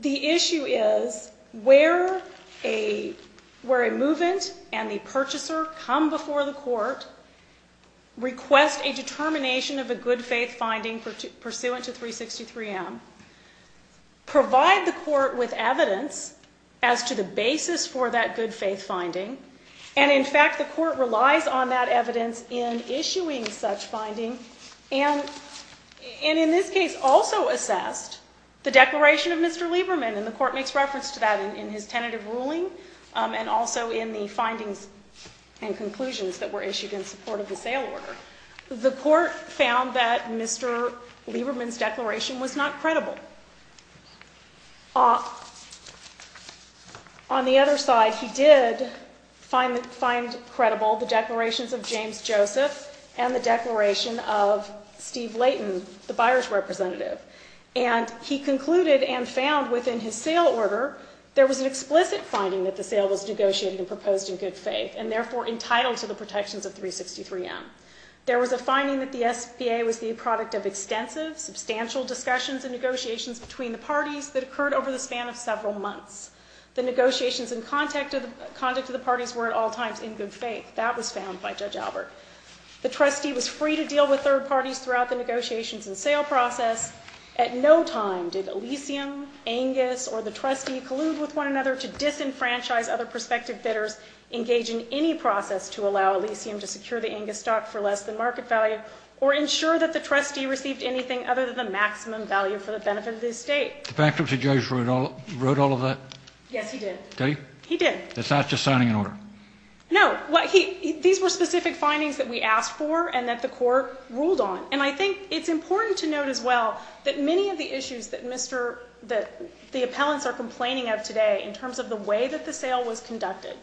The issue is where a movement and the purchaser come before the court, request a determination of a good faith finding pursuant to 363M, provide the court with evidence as to the basis for that good faith finding, and in fact the court relies on that evidence in issuing such finding, and in this case also assessed the declaration of Mr. Lieberman, and the court makes reference to that in his tentative ruling, and also in the findings and conclusions that were issued in support of the sale order. The court found that Mr. Lieberman's declaration was not credible. On the other side, he did find credible the declarations of James Joseph and the declaration of Steve Layton, the buyer's representative, and he concluded and found within his sale order, there was an explicit finding that the sale was negotiated and proposed in good faith, and therefore entitled to the protections of 363M. There was a finding that the SBA was the product of extensive, substantial discussions and negotiations between the parties that occurred over the span of several months. The negotiations and conduct of the parties were at all times in good faith. That was found by Judge Albert. The trustee was free to deal with third parties throughout the negotiations and sale process. At no time did Elysium, Angus, or the trustee collude with one another to disenfranchise other prospective bidders, engage in any process to allow Elysium to secure the Angus stock for less than market value, or ensure that the trustee received anything other than the maximum value for the benefit of the estate. The bankruptcy judge wrote all of that? Yes, he did. Did he? He did. It's not just signing an order? No. These were specific findings that we asked for and that the court ruled on, and I think it's important to note as well that many of the issues that the appellants are complaining of today in terms of the way that the sale was conducted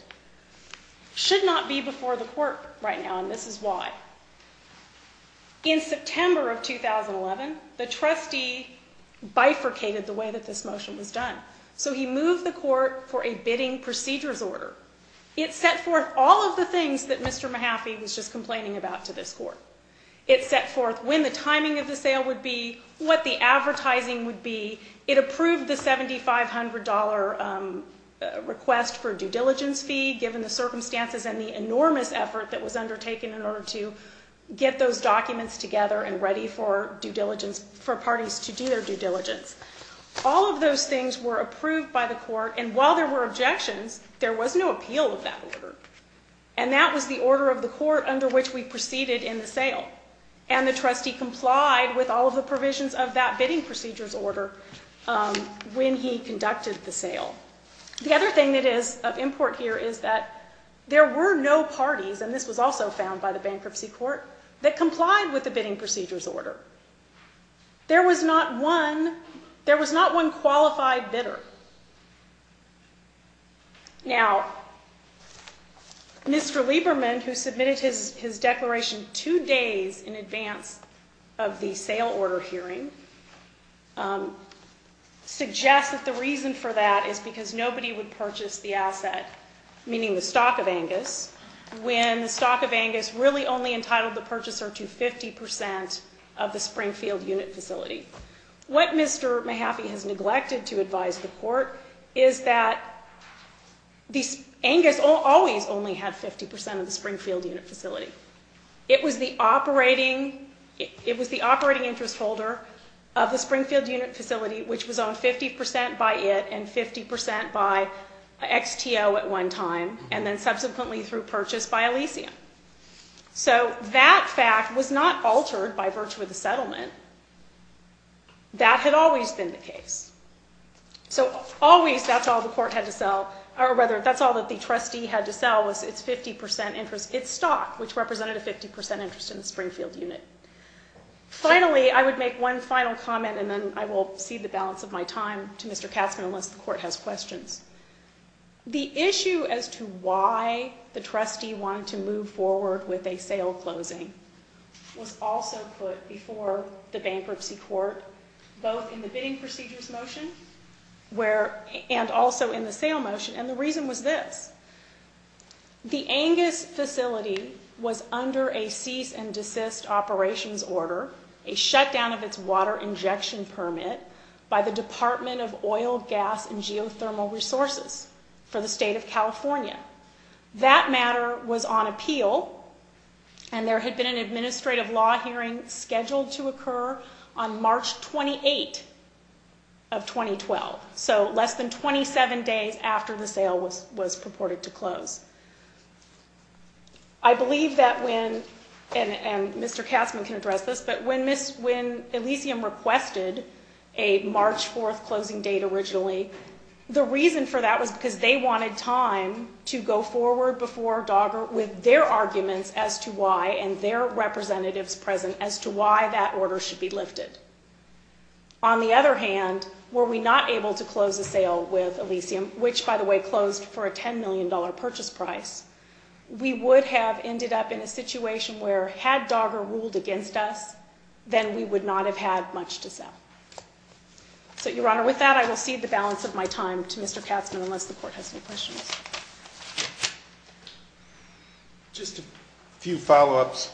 should not be before the court right now, and this is why. In September of 2011, the trustee bifurcated the way that this motion was done. So he moved the court for a bidding procedures order. It set forth all of the things that Mr. Mahaffey was just complaining about to this court. It set forth when the timing of the sale would be, what the advertising would be. It approved the $7,500 request for due diligence fee given the circumstances and the enormous effort that was undertaken in order to get those documents together and ready for parties to do their due diligence. All of those things were approved by the court, and while there were objections, there was no appeal of that order, and that was the order of the court under which we proceeded in the sale, and the trustee complied with all of the provisions of that bidding procedures order when he conducted the sale. The other thing that is of import here is that there were no parties, and this was also found by the bankruptcy court, that complied with the bidding procedures order. There was not one qualified bidder. Now, Mr. Lieberman, who submitted his declaration two days in advance of the sale order hearing, suggests that the reason for that is because nobody would purchase the asset, meaning the stock of Angus, when the stock of Angus really only entitled the purchaser to 50% of the Springfield unit facility. What Mr. Mahaffey has neglected to advise the court is that Angus always only had 50% of the Springfield unit facility. It was the operating interest holder of the Springfield unit facility, which was owned 50% by it and 50% by XTO at one time, and then subsequently through purchase by Elysium. So that fact was not altered by virtue of the settlement. That had always been the case. So always that's all the court had to sell, or rather that's all that the trustee had to sell was its 50% interest, its stock, which represented a 50% interest in the Springfield unit. Finally, I would make one final comment, and then I will cede the balance of my time to Mr. Katzman unless the court has questions. The issue as to why the trustee wanted to move forward with a sale closing was also put before the bankruptcy court, both in the bidding procedures motion and also in the sale motion, and the reason was this. The Angus facility was under a cease and desist operations order, a shutdown of its water injection permit by the Department of Oil, Gas, and Geothermal Resources for the state of California. That matter was on appeal, and there had been an administrative law hearing scheduled to occur on March 28 of 2012, so less than 27 days after the sale was purported to close. I believe that when, and Mr. Katzman can address this, but when Elysium requested a March 4 closing date originally, the reason for that was because they wanted time to go forward before DOGGR with their arguments as to why and their representatives present as to why that order should be lifted. On the other hand, were we not able to close a sale with Elysium, which by the way closed for a $10 million purchase price, we would have ended up in a situation where had DOGGR ruled against us, then we would not have had much to sell. So, Your Honor, with that, I will cede the balance of my time to Mr. Katzman unless the court has any questions. Just a few follow-ups.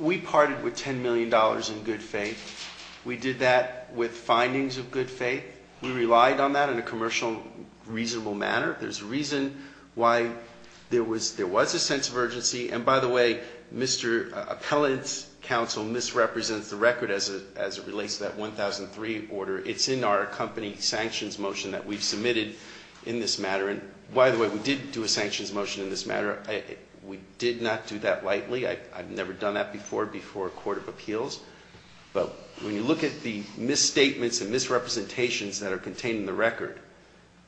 We parted with $10 million in good faith. We did that with findings of good faith. We relied on that in a commercial, reasonable manner. There's a reason why there was a sense of urgency, and by the way, Mr. Appellant's counsel misrepresents the record as it relates to that 1003 order. It's in our company sanctions motion that we've submitted in this matter. And by the way, we did do a sanctions motion in this matter. We did not do that lightly. I've never done that before before a court of appeals. But when you look at the misstatements and misrepresentations that are contained in the record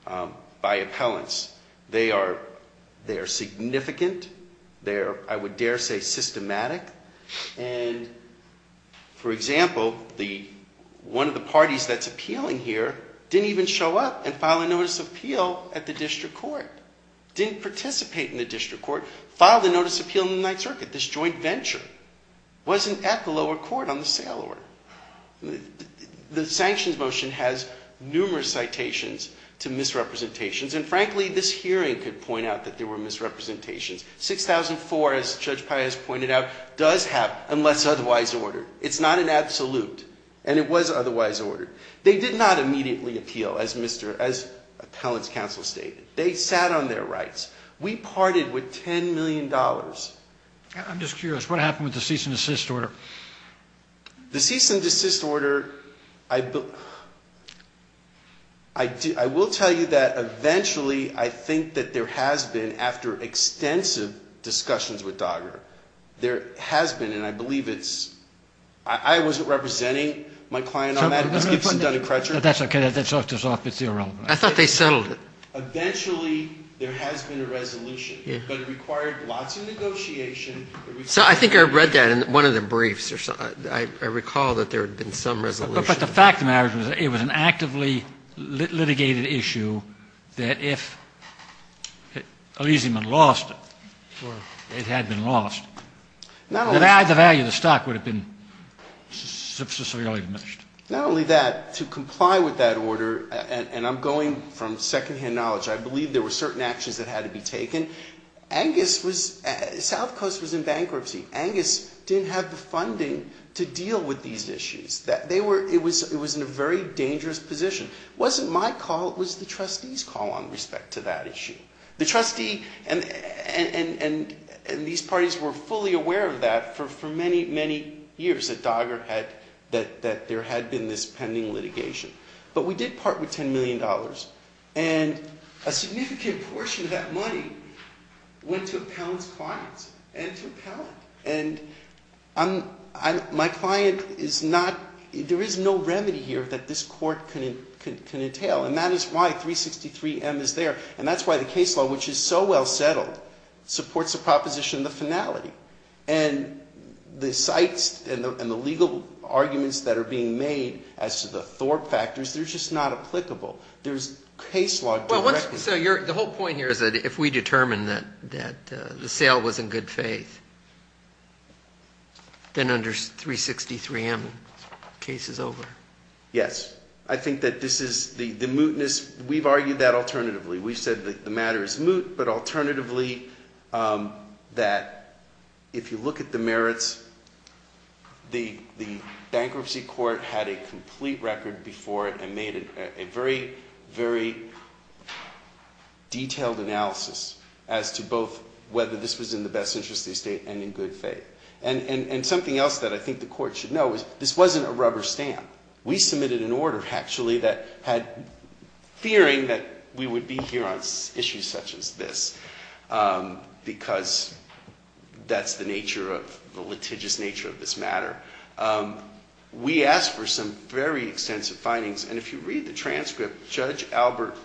by appellants, they are significant. They are, I would dare say, systematic. And, for example, one of the parties that's appealing here didn't even show up and file a notice of appeal at the district court. Didn't participate in the district court. Filed a notice of appeal in the Ninth Circuit, this joint venture. Wasn't at the lower court on the sale order. The sanctions motion has numerous citations to misrepresentations, and frankly, this hearing could point out that there were misrepresentations. 6004, as Judge Pius pointed out, does have unless otherwise ordered. It's not an absolute. And it was otherwise ordered. They did not immediately appeal, as appellant's counsel stated. They sat on their rights. We parted with $10 million. I'm just curious. What happened with the cease and desist order? The cease and desist order, I will tell you that eventually, I think that there has been, after extensive discussions with DOGGR, there has been, and I believe it's, I wasn't representing my client on that. That's okay. I thought they settled it. Eventually, there has been a resolution. But it required lots of negotiation. So I think I read that in one of the briefs. I recall that there had been some resolution. But the fact of the matter is it was an actively litigated issue that if Elysium had lost or it had been lost, the value of the stock would have been severely diminished. Not only that, to comply with that order, and I'm going from secondhand knowledge, I believe there were certain actions that had to be taken. South Coast was in bankruptcy. Angus didn't have the funding to deal with these issues. It was in a very dangerous position. It wasn't my call. It was the trustee's call on respect to that issue. The trustee and these parties were fully aware of that for many, many years that DOGGR had, that there had been this pending litigation. But we did part with $10 million. And a significant portion of that money went to Appellant's clients and to Appellant. And my client is not – there is no remedy here that this court can entail. And that is why 363M is there. And that's why the case law, which is so well settled, supports the proposition of the finality. And the sites and the legal arguments that are being made as to the Thorpe factors, they're just not applicable. There's case law directly. So the whole point here is that if we determine that the sale was in good faith, then under 363M, the case is over. Yes. I think that this is – the mootness – we've argued that alternatively. We've said that the matter is moot, but alternatively that if you look at the merits, the bankruptcy court had a complete record before it and made a very, very detailed analysis as to both whether this was in the best interest of the estate and in good faith. And something else that I think the court should know is this wasn't a rubber stamp. We submitted an order, actually, that had – fearing that we would be here on issues such as this because that's the nature of – the litigious nature of this matter. We asked for some very extensive findings, and if you read the transcript, Judge Albert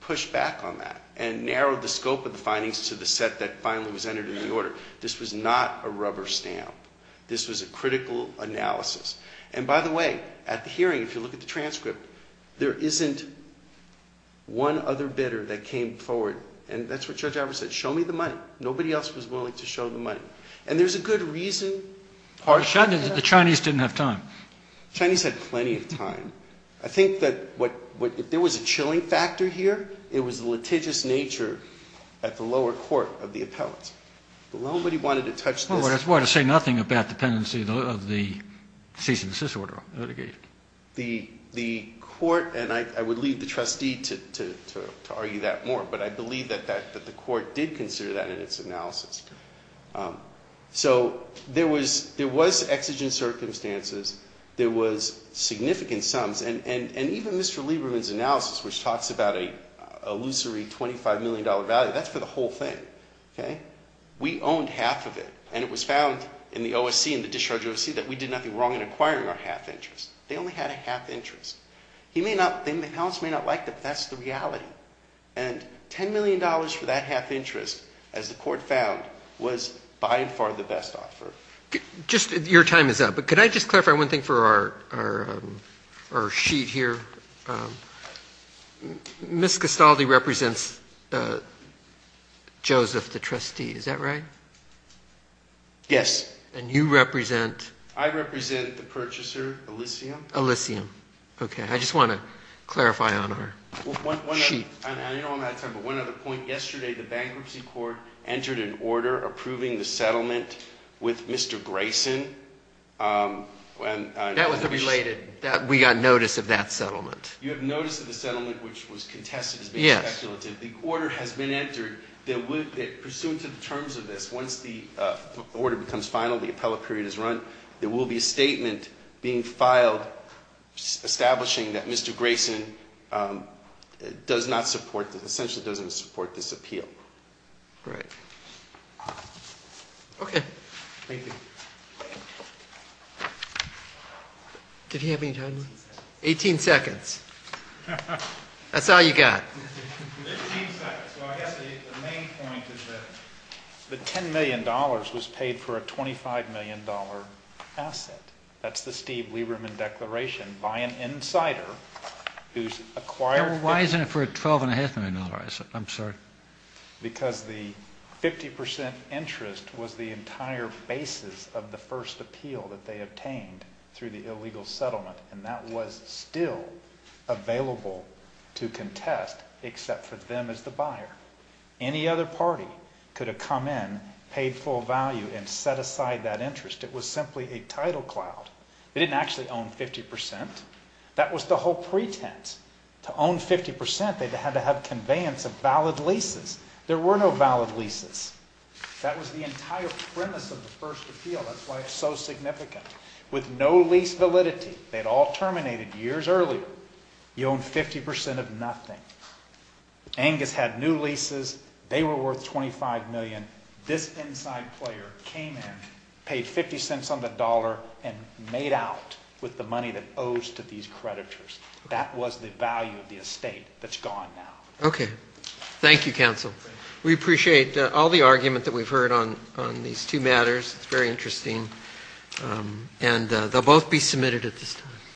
pushed back on that and narrowed the scope of the findings to the set that finally was entered in the order. This was not a rubber stamp. This was a critical analysis. And by the way, at the hearing, if you look at the transcript, there isn't one other bidder that came forward, and that's what Judge Albert said, show me the money. Nobody else was willing to show the money. And there's a good reason. The Chinese didn't have time. The Chinese had plenty of time. I think that what – if there was a chilling factor here, it was the litigious nature at the lower court of the appellate. Nobody wanted to touch this. Well, that's why I say nothing about dependency of the cease and desist order litigation. The court – and I would leave the trustee to argue that more, but I believe that the court did consider that in its analysis. So there was exigent circumstances. There was significant sums, and even Mr. Lieberman's analysis, which talks about a illusory $25 million value, that's for the whole thing. We owned half of it, and it was found in the OSC, in the discharge OSC, that we did nothing wrong in acquiring our half interest. They only had a half interest. He may not – the appellants may not like that, but that's the reality. And $10 million for that half interest, as the court found, was by and far the best offer. Just – your time is up, but could I just clarify one thing for our sheet here? Ms. Castaldi represents Joseph, the trustee. Is that right? Yes. And you represent? I represent the purchaser, Elysium. Elysium. Okay. I just want to clarify on our sheet. I don't know if I have time, but one other point. Yesterday the bankruptcy court entered an order approving the settlement with Mr. Grayson. That was a related – we got notice of that settlement. You have notice of the settlement, which was contested as being speculative. The order has been entered that would – pursuant to the terms of this, once the order becomes final, the appellate period is run, there will be a statement being filed establishing that Mr. Grayson does not support – essentially doesn't support this appeal. Right. Okay. Thank you. Did he have any time? 18 seconds. That's all you got. 15 seconds. Well, I guess the main point is that the $10 million was paid for a $25 million asset. That's the Steve Lieberman Declaration by an insider who's acquired – Why isn't it for a $12.5 million asset? I'm sorry. Because the 50 percent interest was the entire basis of the first appeal that they obtained through the illegal settlement, and that was still available to contest except for them as the buyer. Any other party could have come in, paid full value, and set aside that interest. It was simply a title cloud. They didn't actually own 50 percent. That was the whole pretense. To own 50 percent, they had to have conveyance of valid leases. There were no valid leases. That was the entire premise of the first appeal. That's why it's so significant. With no lease validity, they'd all terminated years earlier. You own 50 percent of nothing. Angus had new leases. They were worth $25 million. This inside player came in, paid 50 cents on the dollar, and made out with the money that owes to these creditors. That was the value of the estate that's gone now. Okay. Thank you, counsel. We appreciate all the argument that we've heard on these two matters. It's very interesting, and they'll both be submitted at this time.